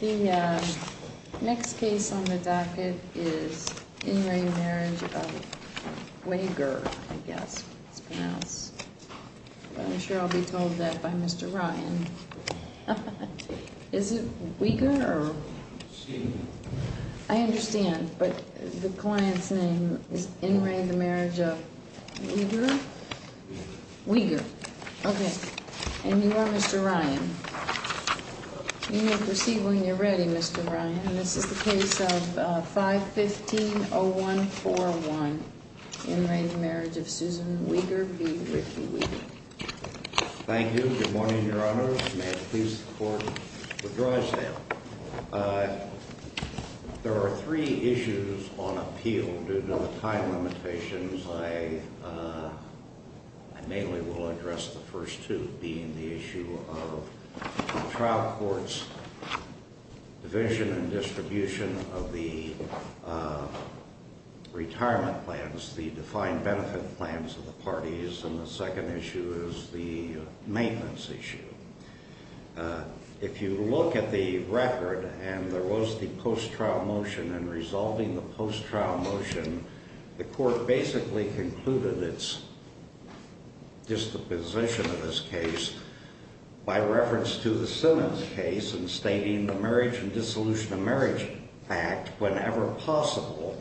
The next case on the docket is In re Marriage of Weger, I guess it's pronounced. I'm sure I'll be told that by Mr. Ryan. Is it Weger? I understand, but the client's name is In re the Marriage of Weger? Weger. Okay. And you are Mr. Ryan. You may proceed when you're ready, Mr. Ryan. And this is the case of 515-0141, In re Marriage of Susan Weger v. Ricky Weger. Thank you. Good morning, Your Honor. May it please the Court, withdraw this case. There are three issues on appeal due to the time limitations. I mainly will address the first two, being the issue of the trial court's division and distribution of the retirement plans, the defined benefit plans of the parties, and the second issue is the maintenance issue. If you look at the record, and there was the post-trial motion, in resolving the post-trial motion, the Court basically concluded its disposition of this case by reference to the Simmons case in stating the Marriage and Dissolution of Marriage Act, whenever possible,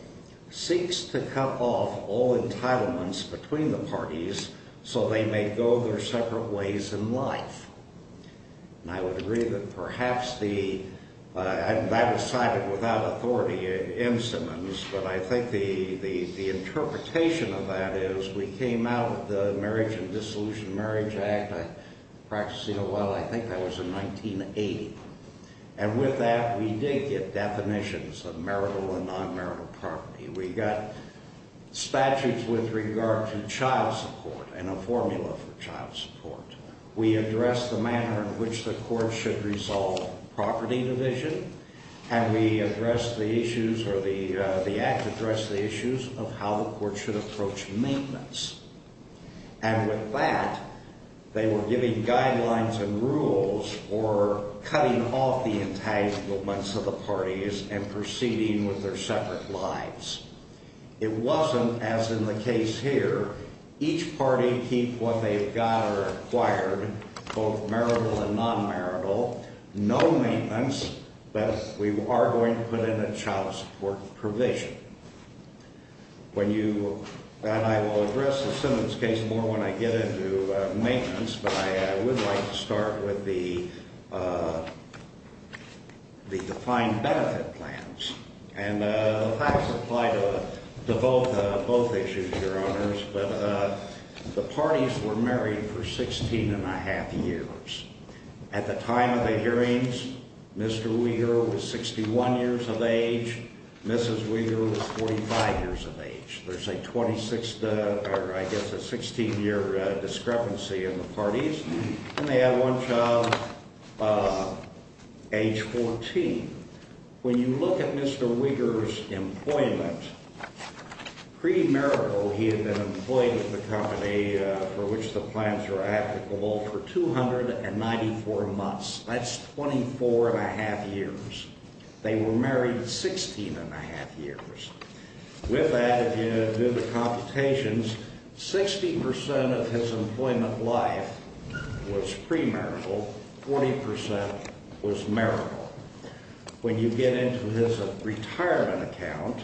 seeks to cut off all entitlements between the parties so they may go their separate ways in life. And I would agree that perhaps the, that was cited without authority in Simmons, but I think the interpretation of that is we came out of the Marriage and Dissolution of Marriage Act, practicing a while, I think that was in 1980, and with that we did get definitions of marital and non-marital property. We got statutes with regard to child support and a formula for child support. We addressed the manner in which the Court should resolve property division, and we addressed the issues, or the Act addressed the issues of how the Court should approach maintenance. And with that, they were giving guidelines and rules for cutting off the entitlements of the parties and proceeding with their separate lives. It wasn't, as in the case here, each party keep what they've got or acquired, both marital and non-marital, no maintenance, but we are going to put in a child support provision. When you, and I will address the Simmons case more when I get into maintenance, but I would like to start with the defined benefit plans. And the facts apply to both issues, Your Honors, but the parties were married for 16 and a half years. At the time of the hearings, Mr. Weaver was 61 years of age, Mrs. Weaver was 45 years of age. There's a 26, or I guess a 16-year discrepancy in the parties, and they had one child age 14. When you look at Mr. Weaver's employment, pre-marital he had been employed at the company for which the plans were applicable for 294 months. That's 24 and a half years. They were married 16 and a half years. With that, if you do the computations, 60% of his employment life was pre-marital, 40% was marital. When you get into his retirement account,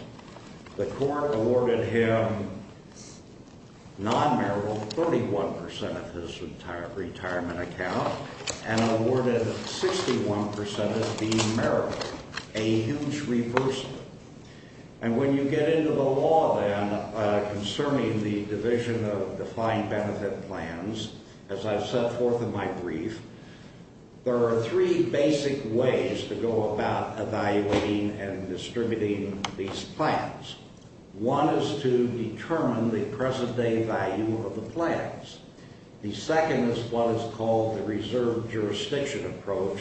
the court awarded him non-marital 31% of his retirement account and awarded 61% as being marital, a huge reversal. And when you get into the law, then, concerning the division of defined benefit plans, as I've set forth in my brief, there are three basic ways to go about evaluating and distributing these plans. One is to determine the present-day value of the plans. The second is what is called the reserved jurisdiction approach,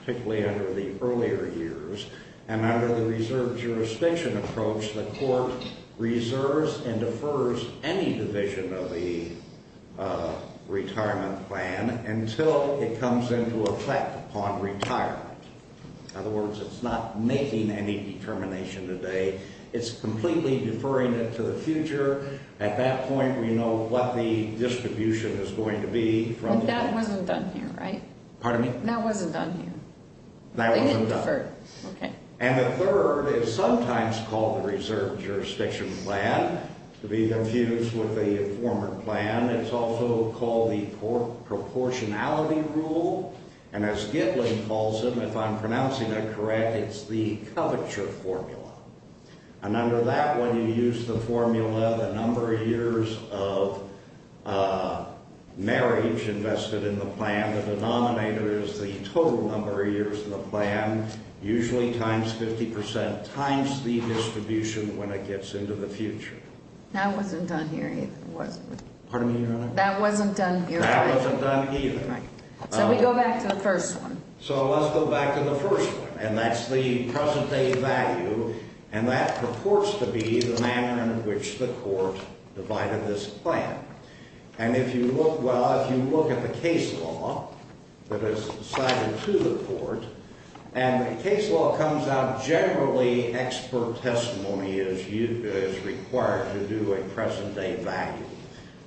particularly under the earlier years. And under the reserved jurisdiction approach, the court reserves and defers any division of the retirement plan until it comes into effect upon retirement. In other words, it's not making any determination today. It's completely deferring it to the future. At that point, we know what the distribution is going to be from... But that wasn't done here, right? Pardon me? That wasn't done here. That wasn't done. They didn't defer. Okay. And the third is sometimes called the reserved jurisdiction plan, to be confused with the former plan. It's also called the proportionality rule. And as Gitlin calls them, if I'm pronouncing that correct, it's the coverture formula. And under that one, you use the formula, the number of years of marriage invested in the plan. The denominator is the total number of years in the plan, usually times 50 percent, times the distribution when it gets into the future. That wasn't done here either, was it? Pardon me, Your Honor? That wasn't done here, right? That wasn't done either. Right. So we go back to the first one. So let's go back to the first one, and that's the present-day value, and that purports to be the manner in which the court divided this plan. And if you look, well, if you look at the case law that is cited to the court, and the case law comes out generally expert testimony is required to do a present-day value.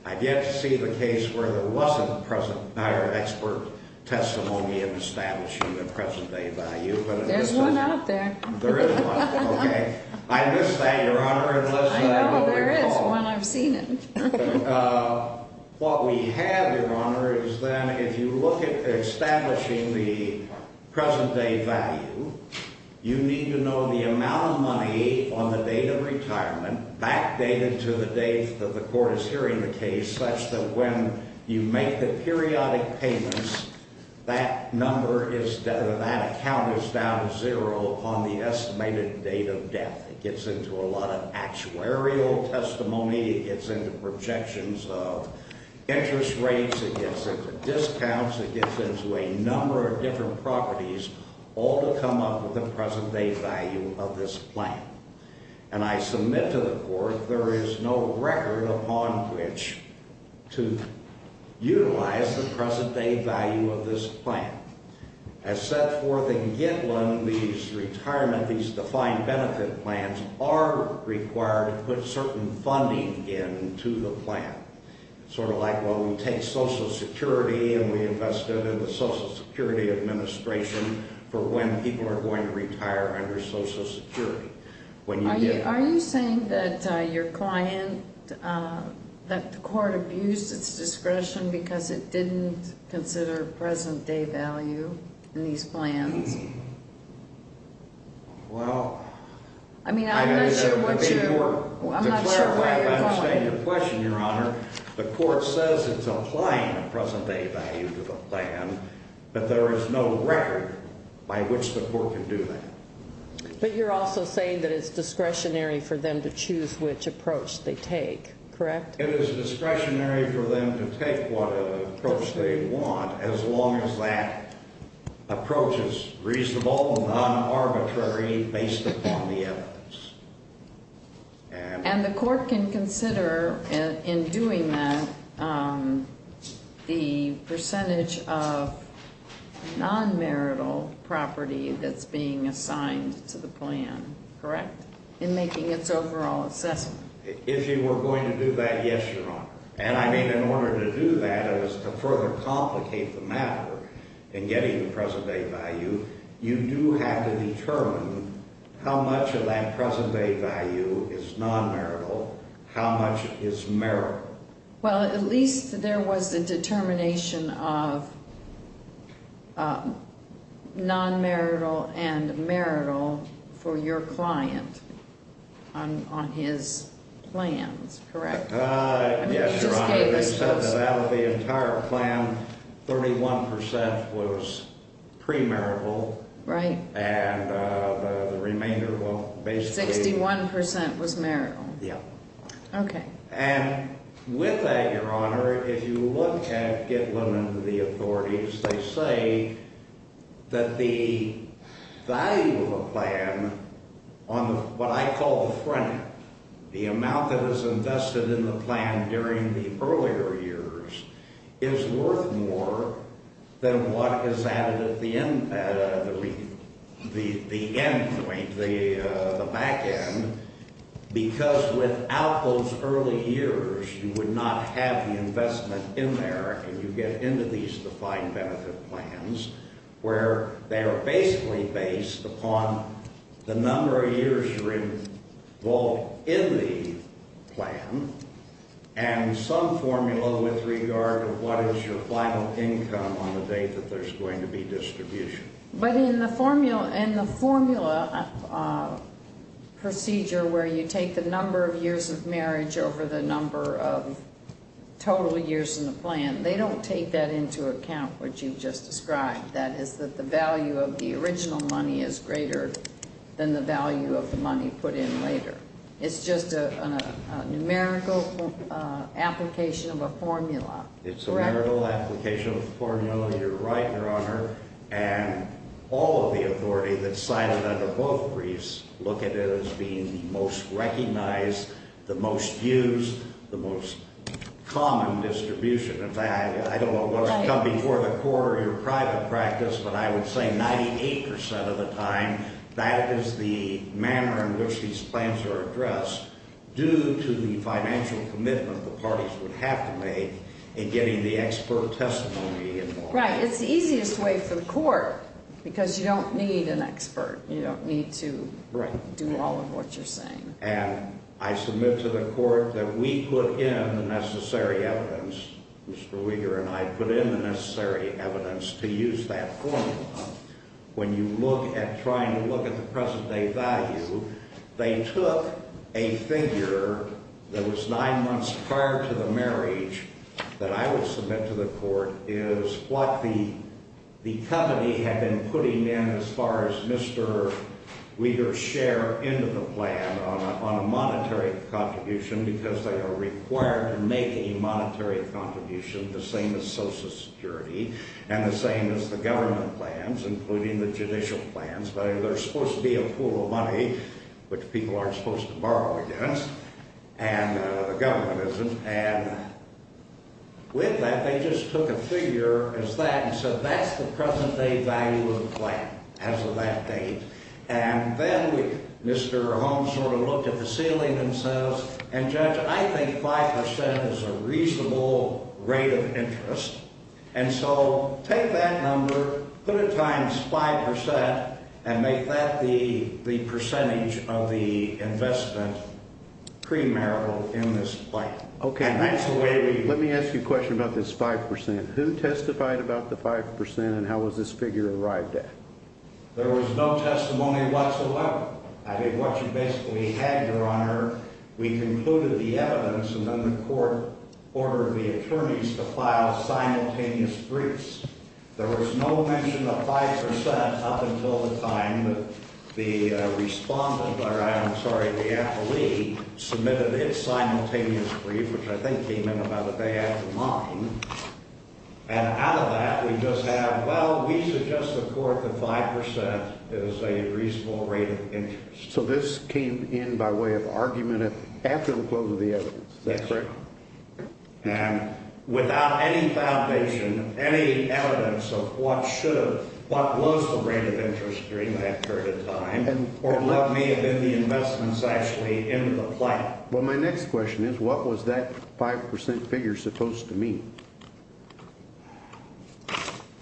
I've yet to see the case where there wasn't present or expert testimony in establishing the present-day value. There's one out there. There is one. Okay. I missed that, Your Honor. I know. There is one. I've seen it. What we have, Your Honor, is then if you look at establishing the present-day value, you need to know the amount of money on the date of retirement backdated to the date that the court is hearing the case such that when you make the periodic payments, that number is — that account is down to zero on the estimated date of death. It gets into a lot of actuarial testimony. It gets into projections of interest rates. It gets into discounts. It gets into a number of different properties, all to come up with the present-day value of this plan. And I submit to the court there is no record upon which to utilize the present-day value of this plan. As set forth in Gitlin, these retirement, these defined benefit plans are required to put certain funding into the plan. Sort of like, well, we take Social Security and we invest it in the Social Security Administration for when people are going to retire under Social Security. Are you saying that your client, that the court abused its discretion because it didn't consider present-day value in these plans? Well, I mean, I'm not sure what you're — I'm not sure where you're going with that. To clarify, if I understand your question, Your Honor, the court says it's applying the present-day value to the plan, but there is no record by which the court can do that. But you're also saying that it's discretionary for them to choose which approach they take, correct? It is discretionary for them to take what approach they want, as long as that approach is reasonable, non-arbitrary, based upon the evidence. And the court can consider, in doing that, the percentage of non-marital property that's being assigned to the plan, correct, in making its overall assessment? If you were going to do that, yes, Your Honor. And I mean, in order to do that, as to further complicate the matter in getting the present-day value, you do have to determine how much of that present-day value is non-marital, how much is marital. Well, at least there was a determination of non-marital and marital for your client on his plans, correct? Yes, Your Honor. They said that out of the entire plan, 31% was premarital. Right. And the remainder, well, basically— 61% was marital. Yeah. Okay. And with that, Your Honor, if you look at Gitlin and the authorities, they say that the value of a plan on what I call the front end, the amount that is invested in the plan during the earlier years, is worth more than what is added at the end—the end point, the back end, because without those early years, you would not have the investment in there, and you get into these defined benefit plans, where they are basically based upon the number of years involved in the plan and some formula with regard to what is your final income on the date that there's going to be distribution. But in the formula procedure where you take the number of years of marriage over the number of total years in the plan, they don't take that into account, what you just described. That is that the value of the original money is greater than the value of the money put in later. It's just a numerical application of a formula, correct? It's a numerical application of a formula. You're right, Your Honor. And all of the authority that's cited under both briefs look at it as being the most recognized, the most used, the most common distribution. In fact, I don't know what's come before the court or your private practice, but I would say 98% of the time, that is the manner in which these plans are addressed due to the financial commitment the parties would have to make in getting the expert testimony involved. Right. It's the easiest way for the court, because you don't need an expert. You don't need to do all of what you're saying. And I submit to the court that we put in the necessary evidence, Mr. Weeger and I put in the necessary evidence to use that formula. When you look at trying to look at the present-day value, they took a figure that was nine months prior to the marriage that I would submit to the court is what the company had been putting in as far as Mr. Weeger's share into the plan on a monetary contribution, because they are required to make a monetary contribution, the same as Social Security and the same as the government plans. Including the judicial plans, but they're supposed to be a pool of money, which people aren't supposed to borrow against, and the government isn't. And with that, they just took a figure as that, and said that's the present-day value of the plan as of that date. And then Mr. Holmes sort of looked at the ceiling and says, and, Judge, I think 5% is a reasonable rate of interest. And so take that number, put it times 5%, and make that the percentage of the investment premarital in this plan. Okay. And that's the way we – Let me ask you a question about this 5%. Who testified about the 5% and how was this figure arrived at? There was no testimony whatsoever. I mean, what you basically had, Your Honor, we concluded the evidence, and then the court ordered the attorneys to file simultaneous briefs. There was no mention of 5% up until the time that the respondent – or, I'm sorry, the appellee submitted its simultaneous brief, which I think came in about a day after mine. And out of that, we just have, well, we suggest the court that 5% is a reasonable rate of interest. So this came in by way of argument after the close of the evidence. That's right. And without any foundation, any evidence of what should have – what was the rate of interest during that period of time, or what may have been the investments actually into the plan. Well, my next question is what was that 5% figure supposed to mean?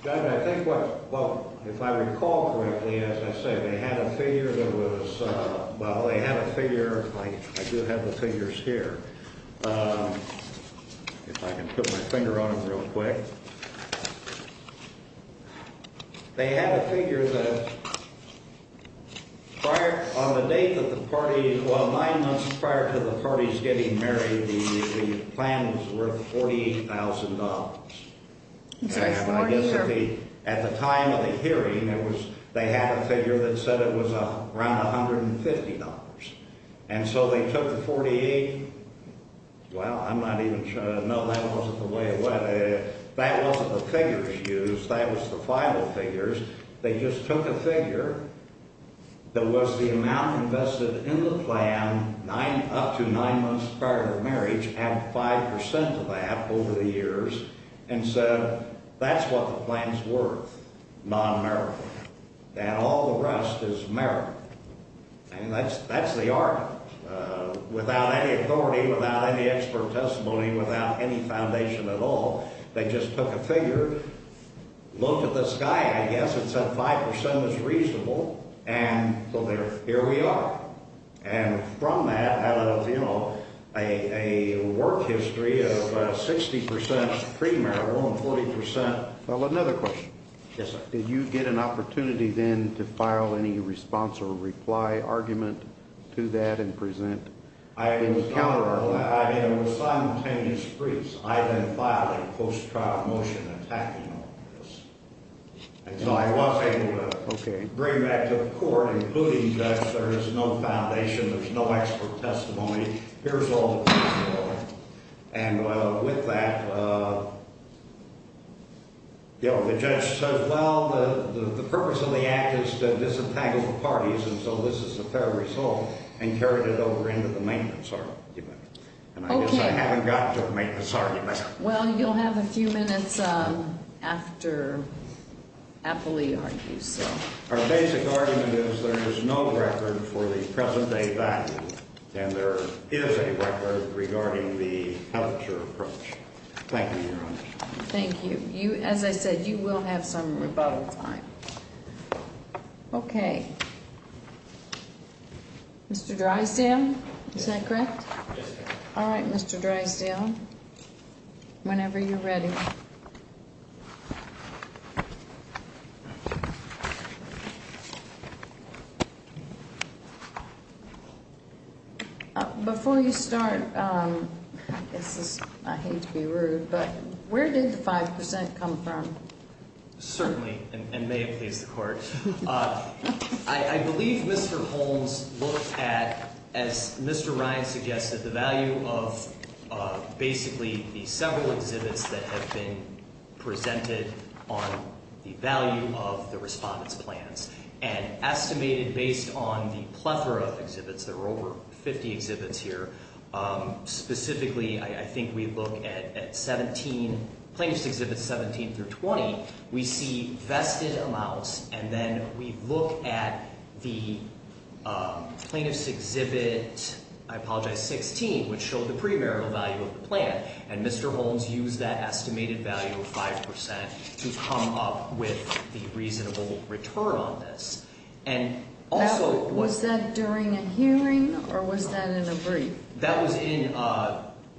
Judge, I think what – well, if I recall correctly, as I said, they had a figure that was – well, they had a figure – I do have the figures here. If I can put my finger on them real quick. They had a figure that prior – on the date that the party – well, nine months prior to the parties getting married, the plan was worth $48,000. At the time of the hearing, it was – they had a figure that said it was around $150. And so they took the 48 – well, I'm not even – no, that wasn't the way it went. That wasn't the figures used. That was the final figures. They just took a figure that was the amount invested in the plan nine – up to nine months prior to marriage and 5% of that over the years and said that's what the plan's worth, non-merit. That all the rest is merit. And that's the argument. Without any authority, without any expert testimony, without any foundation at all, they just took a figure, looked at the sky, and I guess it said 5% is reasonable, and so there – here we are. And from that, out of, you know, a work history of 60% pre-marital and 40% – Well, another question. Yes, sir. Did you get an opportunity then to file any response or reply argument to that and present any counter-argument? I did. It was simultaneous briefs. I then filed a post-trial motion attacking all of this. And so I was able to bring that to the court, including the judge. There is no foundation. There's no expert testimony. Here's all the proofs there are. And with that, you know, the judge says, well, the purpose of the act is to disentangle the parties, and so this is a fair result, and carried it over into the maintenance argument. Okay. And I guess I haven't gotten to the maintenance argument. Well, you'll have a few minutes after Appley argues. Our basic argument is there is no record for the present-day value, and there is a record regarding the health insurer approach. Thank you, Your Honor. Thank you. As I said, you will have some rebuttal time. Okay. Mr. Drysdale, is that correct? Yes, ma'am. All right, Mr. Drysdale, whenever you're ready. Before you start, I hate to be rude, but where did the 5% come from? Certainly, and may it please the Court. I believe Mr. Holmes looked at, as Mr. Ryan suggested, the value of basically the several exhibits that have been presented on the value of the respondent's plans, and estimated based on the plethora of exhibits, there were over 50 exhibits here, specifically, I think we look at Plaintiffs' Exhibits 17 through 20, we see vested amounts, and then we look at the Plaintiffs' Exhibit 16, which showed the pre-marital value of the plan, and Mr. Holmes used that estimated value of 5% to come up with the reasonable return on this. Was that during a hearing, or was that in a brief? That was in,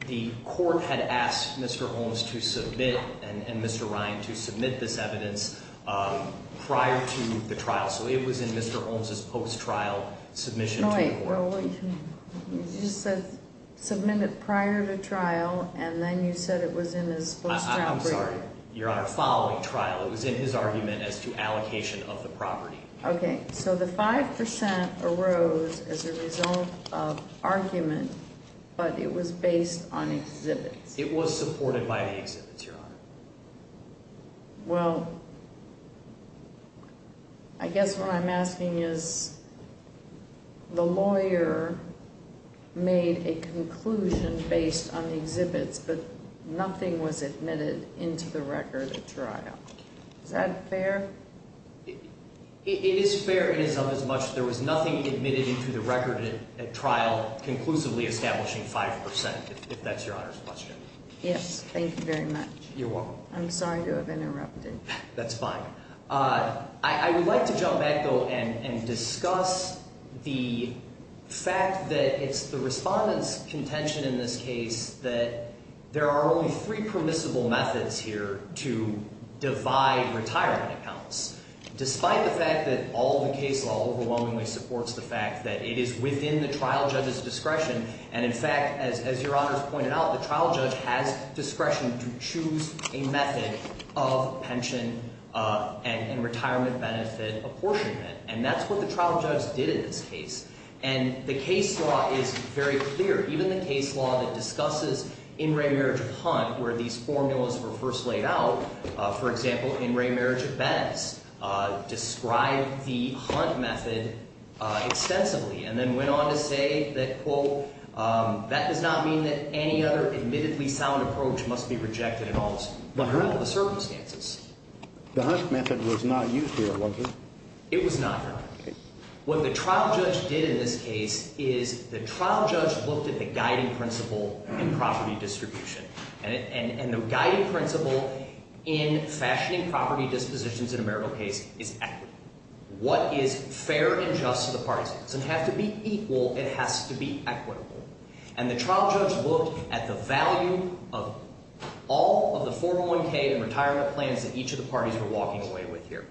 the Court had asked Mr. Holmes to submit, and Mr. Ryan, to submit this evidence prior to the trial, so it was in Mr. Holmes' post-trial submission to the Court. All right, well, you just said submit it prior to trial, and then you said it was in his post-trial brief. I'm sorry, Your Honor, following trial. It was in his argument as to allocation of the property. Okay, so the 5% arose as a result of argument, but it was based on exhibits. It was supported by the exhibits, Your Honor. Well, I guess what I'm asking is, the lawyer made a conclusion based on the exhibits, but nothing was admitted into the record at trial. Is that fair? It is fair. It is of as much, there was nothing admitted into the record at trial conclusively establishing 5%, if that's Your Honor's question. Yes, thank you very much. You're welcome. I'm sorry to have interrupted. That's fine. I would like to jump back, though, and discuss the fact that it's the Respondent's contention in this case that there are only three permissible methods here to divide retirement accounts, despite the fact that all of the case law overwhelmingly supports the fact that it is within the trial judge's discretion. And, in fact, as Your Honor has pointed out, the trial judge has discretion to choose a method of pension and retirement benefit apportionment. And that's what the trial judge did in this case. And the case law is very clear. Even the case law that discusses in-ray marriage of Hunt, where these formulas were first laid out, for example, in-ray marriage of Betts, described the Hunt method extensively, and then went on to say that, quote, that does not mean that any other admittedly sound approach must be rejected in all the circumstances. The Hunt method was not used here, was it? It was not, Your Honor. Okay. What the trial judge did in this case is the trial judge looked at the guiding principle in property distribution. And the guiding principle in fashioning property dispositions in a marital case is equity. What is fair and just to the parties? It doesn't have to be equal. It has to be equitable. And the trial judge looked at the value of all of the 401K and retirement plans that each of the parties were walking away with here.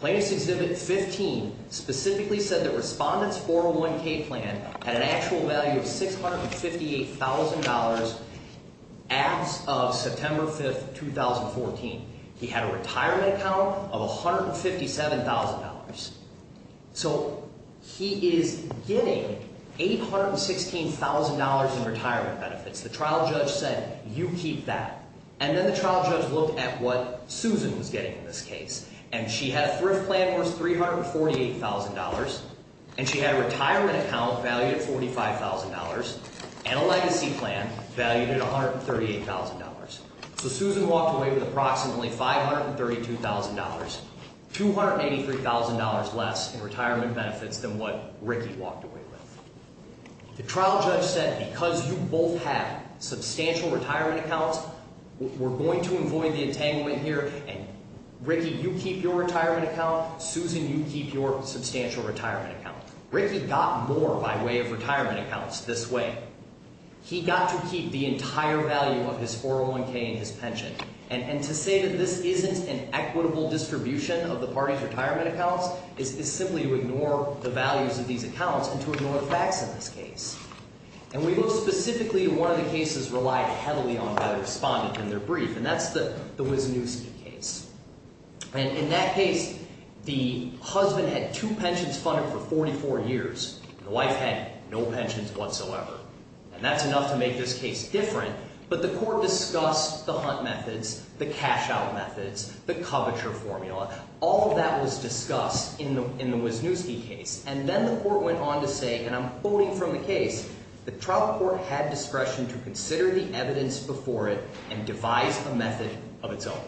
Plaintiff's Exhibit 15 specifically said that Respondent's 401K plan had an actual value of $658,000 as of September 5th, 2014. He had a retirement account of $157,000. So he is getting $816,000 in retirement benefits. The trial judge said, you keep that. And then the trial judge looked at what Susan was getting in this case. And she had a thrift plan worth $348,000, and she had a retirement account valued at $45,000, and a legacy plan valued at $138,000. So Susan walked away with approximately $532,000, $283,000 less in retirement benefits than what Ricky walked away with. The trial judge said, because you both have substantial retirement accounts, we're going to avoid the entanglement here. And Ricky, you keep your retirement account. Susan, you keep your substantial retirement account. Ricky got more by way of retirement accounts this way. He got to keep the entire value of his 401K and his pension. And to say that this isn't an equitable distribution of the party's retirement accounts is simply to ignore the values of these accounts and to ignore the facts in this case. And we know specifically one of the cases relied heavily on that respondent in their brief, and that's the Wisniewski case. And in that case, the husband had two pensions funded for 44 years, and the wife had no pensions whatsoever. And that's enough to make this case different, but the court discussed the hunt methods, the cash-out methods, the coverture formula. All of that was discussed in the Wisniewski case. And then the court went on to say, and I'm quoting from the case, the trial court had discretion to consider the evidence before it and devise a method of its own.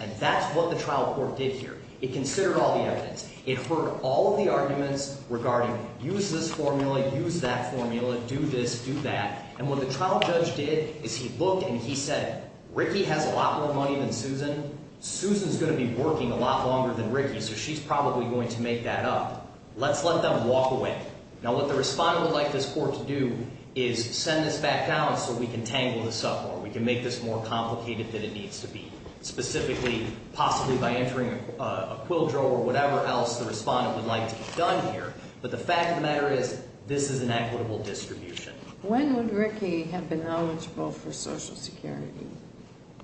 And that's what the trial court did here. It considered all the evidence. It heard all of the arguments regarding use this formula, use that formula, do this, do that. And what the trial judge did is he looked and he said, Ricky has a lot more money than Susan. Susan's going to be working a lot longer than Ricky, so she's probably going to make that up. Let's let them walk away. Now, what the respondent would like this court to do is send this back down so we can tangle this up more, we can make this more complicated than it needs to be, specifically possibly by entering a quill drill or whatever else the respondent would like to get done here. But the fact of the matter is this is an equitable distribution. When would Ricky have been eligible for Social Security?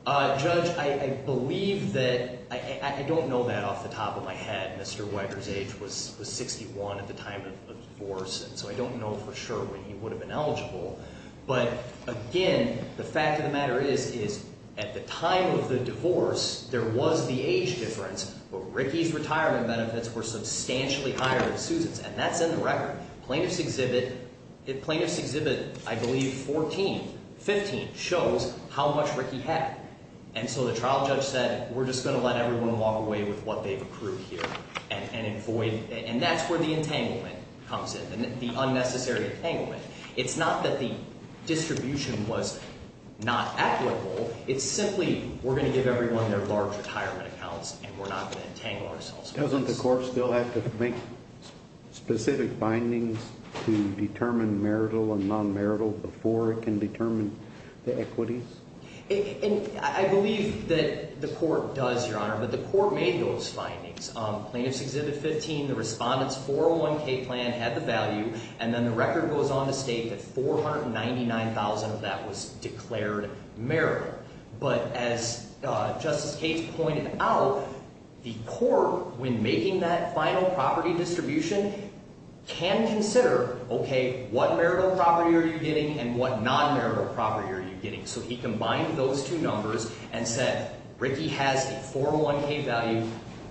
Judge, I believe that – I don't know that off the top of my head. Mr. Weider's age was 61 at the time of the divorce, and so I don't know for sure when he would have been eligible. But, again, the fact of the matter is, is at the time of the divorce, there was the age difference, but Ricky's retirement benefits were substantially higher than Susan's, and that's in the record. Plaintiff's Exhibit – Plaintiff's Exhibit, I believe, 14, 15 shows how much Ricky had. And so the trial judge said, we're just going to let everyone walk away with what they've accrued here and avoid – and that's where the entanglement comes in, the unnecessary entanglement. It's not that the distribution was not equitable. It's simply we're going to give everyone their large retirement accounts and we're not going to entangle ourselves. Doesn't the court still have to make specific findings to determine marital and non-marital before it can determine the equities? I believe that the court does, Your Honor, but the court made those findings. Plaintiff's Exhibit 15, the respondent's 401k plan had the value, and then the record goes on to state that $499,000 of that was declared marital. But as Justice Cates pointed out, the court, when making that final property distribution, can consider, okay, what marital property are you getting and what non-marital property are you getting? So he combined those two numbers and said Ricky has a 401k value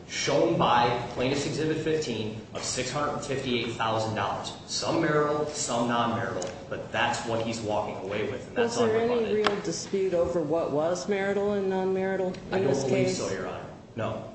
shown by Plaintiff's Exhibit 15 of $658,000, some marital, some non-marital, but that's what he's walking away with. Was there any real dispute over what was marital and non-marital in this case? I don't believe so, Your Honor, no.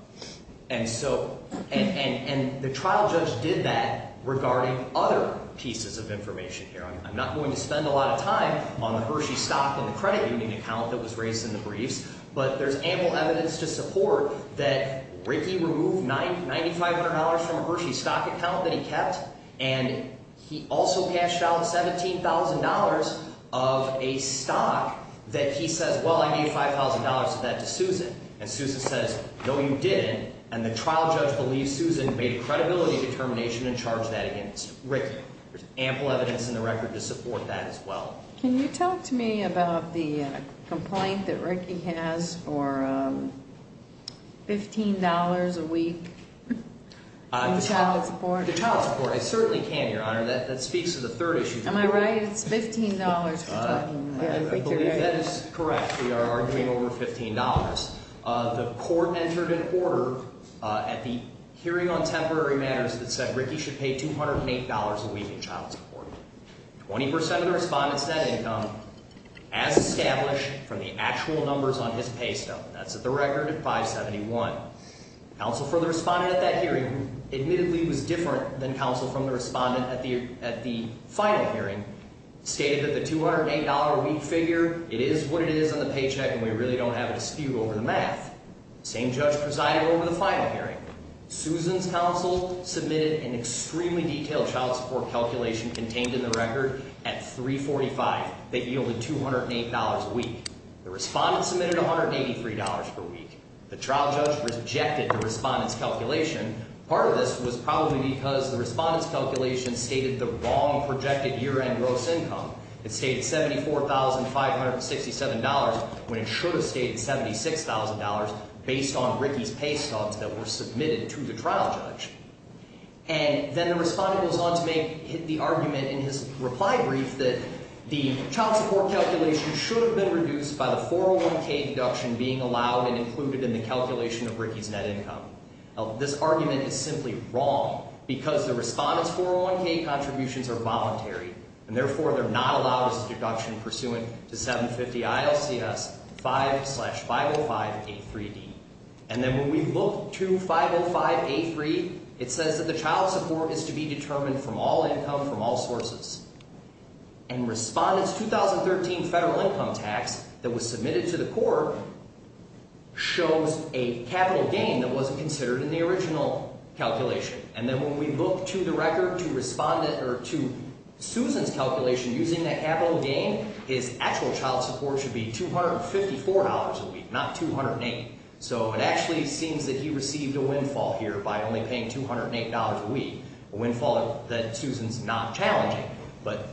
And so, and the trial judge did that regarding other pieces of information here. I'm not going to spend a lot of time on the Hershey stock and the credit union account that was raised in the briefs, but there's ample evidence to support that Ricky removed $9,500 from a Hershey stock account that he kept, and he also cashed out $17,000 of a stock that he says, well, I gave $5,000 of that to Susan. And Susan says, no, you didn't. And the trial judge believes Susan made a credibility determination and charged that against Ricky. There's ample evidence in the record to support that as well. Can you talk to me about the complaint that Ricky has for $15 a week in child support? The child support, I certainly can, Your Honor. That speaks to the third issue. Am I right? It's $15. I believe that is correct. We are arguing over $15. The court entered an order at the hearing on temporary matters that said Ricky should pay $208 a week in child support. 20% of the respondent's net income as established from the actual numbers on his pay stub. That's at the record at 571. Counsel for the respondent at that hearing admittedly was different than counsel from the respondent at the final hearing, stated that the $208 a week figure, it is what it is on the paycheck, and we really don't have a dispute over the math. Same judge presided over the final hearing. Susan's counsel submitted an extremely detailed child support calculation contained in the record at 345 that yielded $208 a week. The respondent submitted $183 per week. The trial judge rejected the respondent's calculation. Part of this was probably because the respondent's calculation stated the wrong projected year-end gross income. It stated $74,567 when it should have stated $76,000 based on Ricky's pay stubs that were submitted to the trial judge. And then the respondent goes on to make the argument in his reply brief that the child support calculation should have been reduced by the 401k deduction being allowed and included in the calculation of Ricky's net income. Now, this argument is simply wrong because the respondent's 401k contributions are voluntary, and therefore they're not allowed as a deduction pursuant to 750 ILCS 5 slash 505A3D. And then when we look to 505A3, it says that the child support is to be determined from all income from all sources. And respondent's 2013 federal income tax that was submitted to the court shows a capital gain that wasn't considered in the original calculation. And then when we look to the record to respondent or to Susan's calculation using that capital gain, his actual child support should be $254 a week, not $208. So it actually seems that he received a windfall here by only paying $208 a week, a windfall that Susan's not challenging. But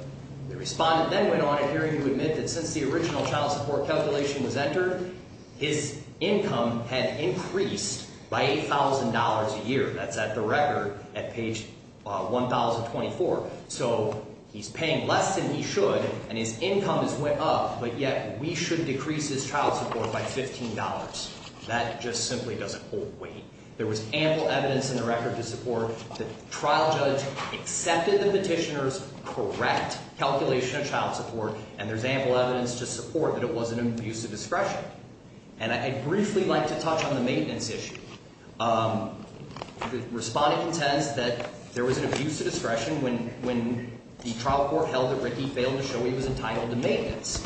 the respondent then went on to hear him admit that since the original child support calculation was entered, his income had increased by $8,000 a year. That's at the record at page 1024. So he's paying less than he should, and his income has went up, but yet we should decrease his child support by $15. That just simply doesn't hold weight. There was ample evidence in the record to support the trial judge accepted the petitioner's correct calculation of child support, and there's ample evidence to support that it was an abuse of discretion. And I'd briefly like to touch on the maintenance issue. The respondent intends that there was an abuse of discretion when the trial court held that Ricky failed to show he was entitled to maintenance.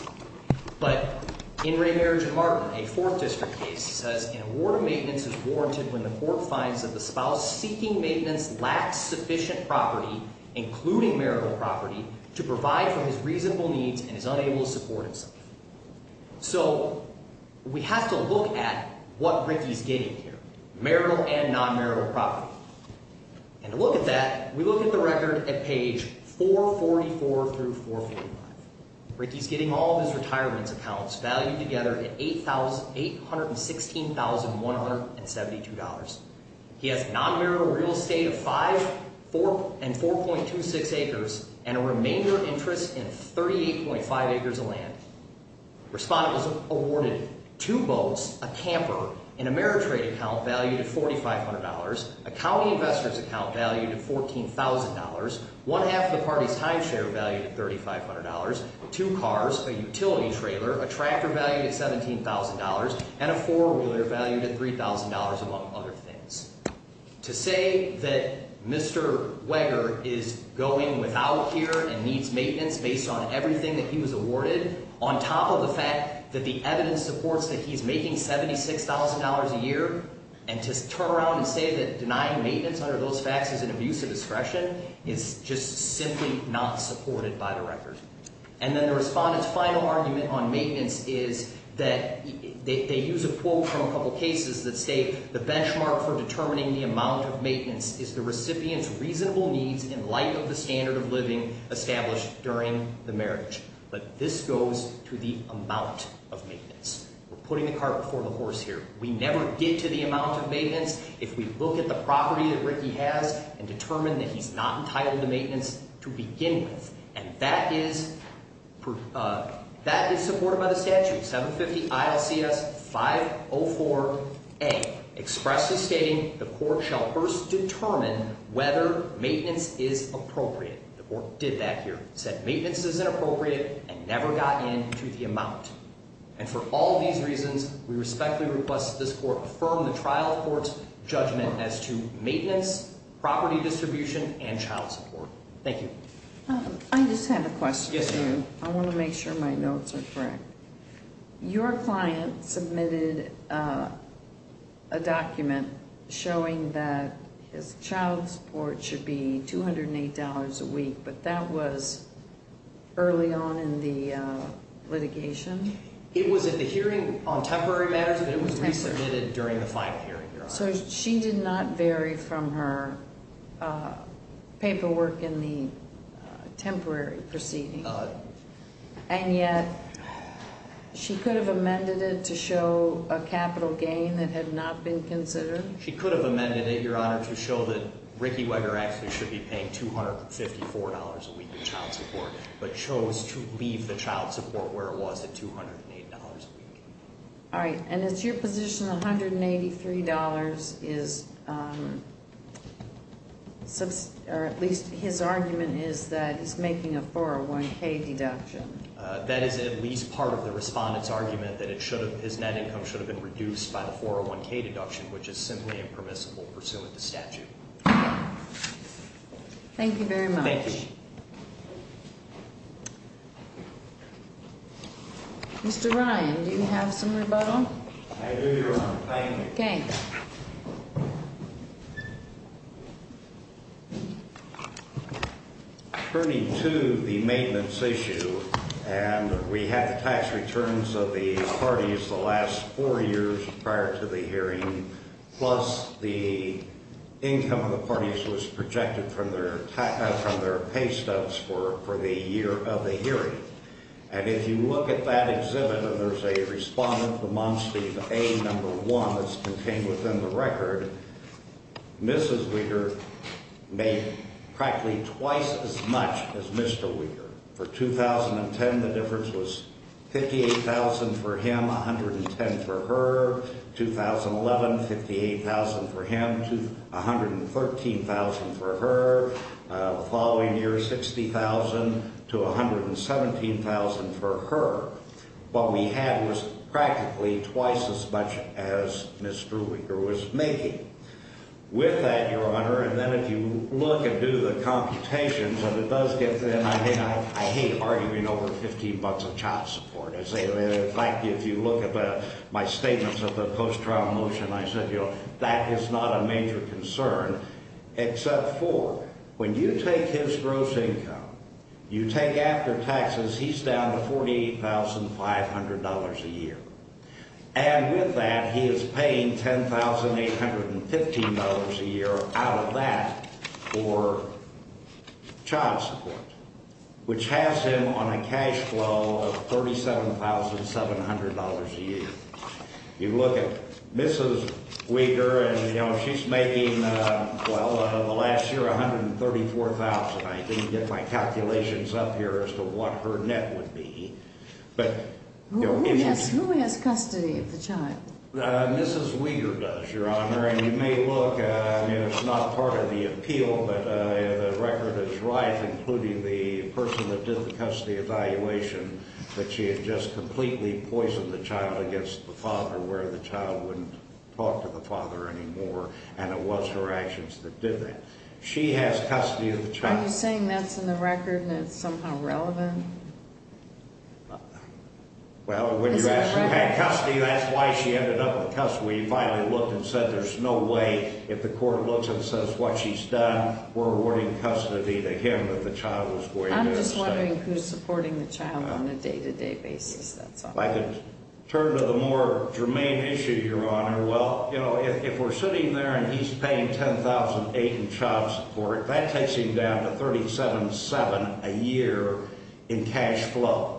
But in Ray Marriage and Martin, a Fourth District case, says an award of maintenance is warranted when the court finds that the spouse seeking maintenance lacks sufficient property, including marital property, to provide for his reasonable needs and is unable to support himself. So we have to look at what Ricky's getting here, marital and non-marital property. And to look at that, we look at the record at page 444 through 455. Ricky's getting all of his retirement accounts valued together at $816,172. He has non-marital real estate of 5 and 4.26 acres and a remainder interest in 38.5 acres of land. Respondent was awarded two boats, a camper, an Ameritrade account valued at $4,500, a county investor's account valued at $14,000, one half of the party's timeshare valued at $3,500, two cars, a utility trailer, a tractor valued at $17,000, and a four-wheeler valued at $3,000, among other things. To say that Mr. Weger is going without care and needs maintenance based on everything that he was awarded, on top of the fact that the evidence supports that he's making $76,000 a year, and to turn around and say that denying maintenance under those facts is an abuse of discretion is just simply not supported by the record. And then the respondent's final argument on maintenance is that they use a quote from a couple cases that say, the benchmark for determining the amount of maintenance is the recipient's reasonable needs in light of the standard of living established during the marriage. But this goes to the amount of maintenance. We're putting the cart before the horse here. We never get to the amount of maintenance if we look at the property that Ricky has and determine that he's not entitled to maintenance to begin with. And that is supported by the statute, 750-ILCS-504A, expressly stating the court shall first determine whether maintenance is appropriate. The court did that here. It said maintenance is inappropriate and never got in to the amount. And for all these reasons, we respectfully request that this court affirm the trial court's judgment as to maintenance, property distribution, and child support. Thank you. I just have a question for you. Yes, ma'am. I want to make sure my notes are correct. Your client submitted a document showing that his child support should be $208 a week, but that was early on in the litigation? It was at the hearing on temporary matters, but it was resubmitted during the final hearing, Your Honor. So she did not vary from her paperwork in the temporary proceeding, and yet she could have amended it to show a capital gain that had not been considered? She could have amended it, Your Honor, to show that Ricky Weger actually should be paying $254 a week in child support, but chose to leave the child support where it was at $208 a week. All right. And it's your position $183 is at least his argument is that he's making a 401k deduction? That is at least part of the respondent's argument that his net income should have been reduced by the 401k deduction, which is simply impermissible pursuant to statute. Okay. Thank you very much. Thank you. Mr. Ryan, do you have some rebuttal? I do, Your Honor. Thank you. Okay. Attorney 2, the maintenance issue, and we had the tax returns of the parties the last four years prior to the hearing, plus the income of the parties was projected from their pay stubs for the year of the hearing. And if you look at that exhibit and there's a respondent, the monstee, the A number one that's contained within the record, Mrs. Weger made practically twice as much as Mr. Weger. For 2010, the difference was $58,000 for him, $110,000 for her. 2011, $58,000 for him, $113,000 for her. The following year, $60,000 to $117,000 for her. What we had was practically twice as much as Mrs. Weger was making. With that, Your Honor, and then if you look and do the computations and it does get to the end, I hate arguing over $15 of child support. In fact, if you look at my statements of the post-trial motion, I said, you know, that is not a major concern except for when you take his gross income, you take after taxes, he's down to $48,500 a year. And with that, he is paying $10,815 a year out of that for child support, which has him on a cash flow of $37,700 a year. You look at Mrs. Weger and, you know, she's making, well, over the last year, $134,000. I didn't get my calculations up here as to what her net would be. Who has custody of the child? Mrs. Weger does, Your Honor. And you may look, it's not part of the appeal, but the record is right, including the person that did the custody evaluation, that she had just completely poisoned the child against the father where the child wouldn't talk to the father anymore. And it was her actions that did that. She has custody of the child. Are you saying that's in the record and it's somehow relevant? Well, when you ask for custody, that's why she ended up in custody. When you finally looked and said there's no way, if the court looks and says what she's done, we're awarding custody to him that the child was poisoned. I'm just wondering who's supporting the child on a day-to-day basis, that's all. If I could turn to the more germane issue, Your Honor, well, you know, if we're sitting there and he's paying $10,000 in child support, that takes him down to $37,700 a year in cash flow,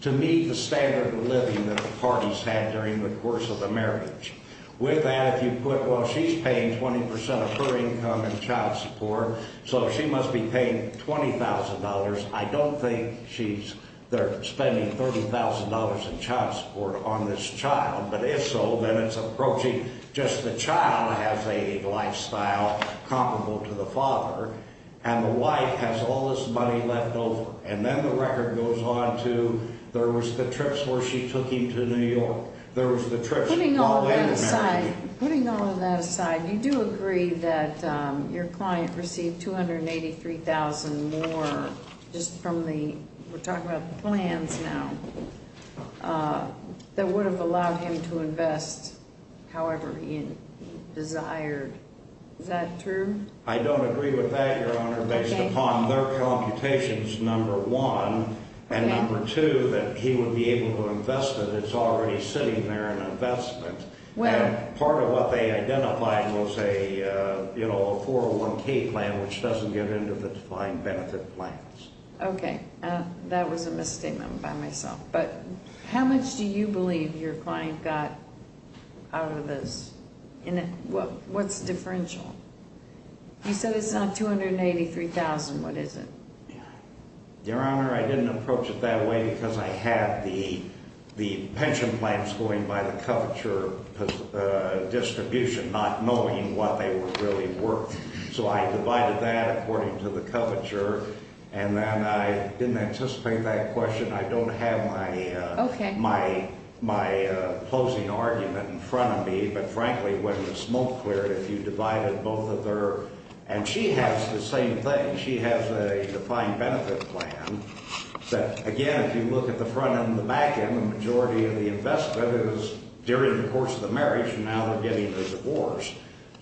to meet the standard of living that a party's had during the course of a marriage. With that, if you put, well, she's paying 20% of her income in child support, so she must be paying $20,000. I don't think she's there spending $30,000 in child support on this child. But if so, then it's approaching just the child has a lifestyle comparable to the father, and the wife has all this money left over. And then the record goes on to there was the trips where she took him to New York. Putting all of that aside, you do agree that your client received $283,000 more just from the, we're talking about the plans now, that would have allowed him to invest however he desired. Is that true? I don't agree with that, Your Honor, based upon their computations, number one. And number two, that he would be able to invest it. It's already sitting there in investment. And part of what they identified was a 401k plan, which doesn't get into the defined benefit plans. Okay. That was a misstatement by myself. But how much do you believe your client got out of this? What's the differential? You said it's on $283,000. What is it? Your Honor, I didn't approach it that way because I had the pension plans going by the coverture distribution, not knowing what they were really worth. So I divided that according to the coverture. And then I didn't anticipate that question. I don't have my closing argument in front of me. But frankly, when the smoke cleared, if you divided both of their – and she has the same thing. She has a defined benefit plan that, again, if you look at the front end and the back end, the majority of the investment is during the course of the marriage. Now they're getting the divorce.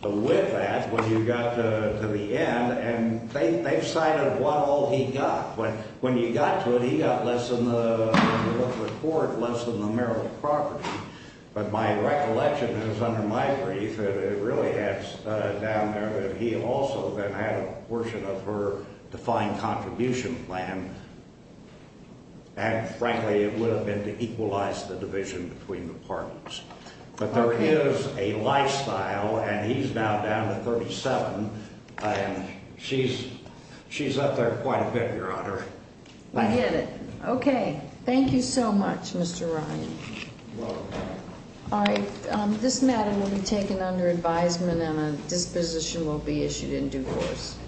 But with that, when you got to the end, and they've cited what all he got. When you got to it, he got less than the court, less than the marital property. But my recollection is, under my brief, that it really adds down there that he also then had a portion of her defined contribution plan. And frankly, it would have been to equalize the division between the partners. But there is a lifestyle. And he's now down to $37,000. And she's up there quite a bit, Your Honor. I get it. Okay. Thank you so much, Mr. Ryan. All right. This matter will be taken under advisement and a disposition will be issued in due course.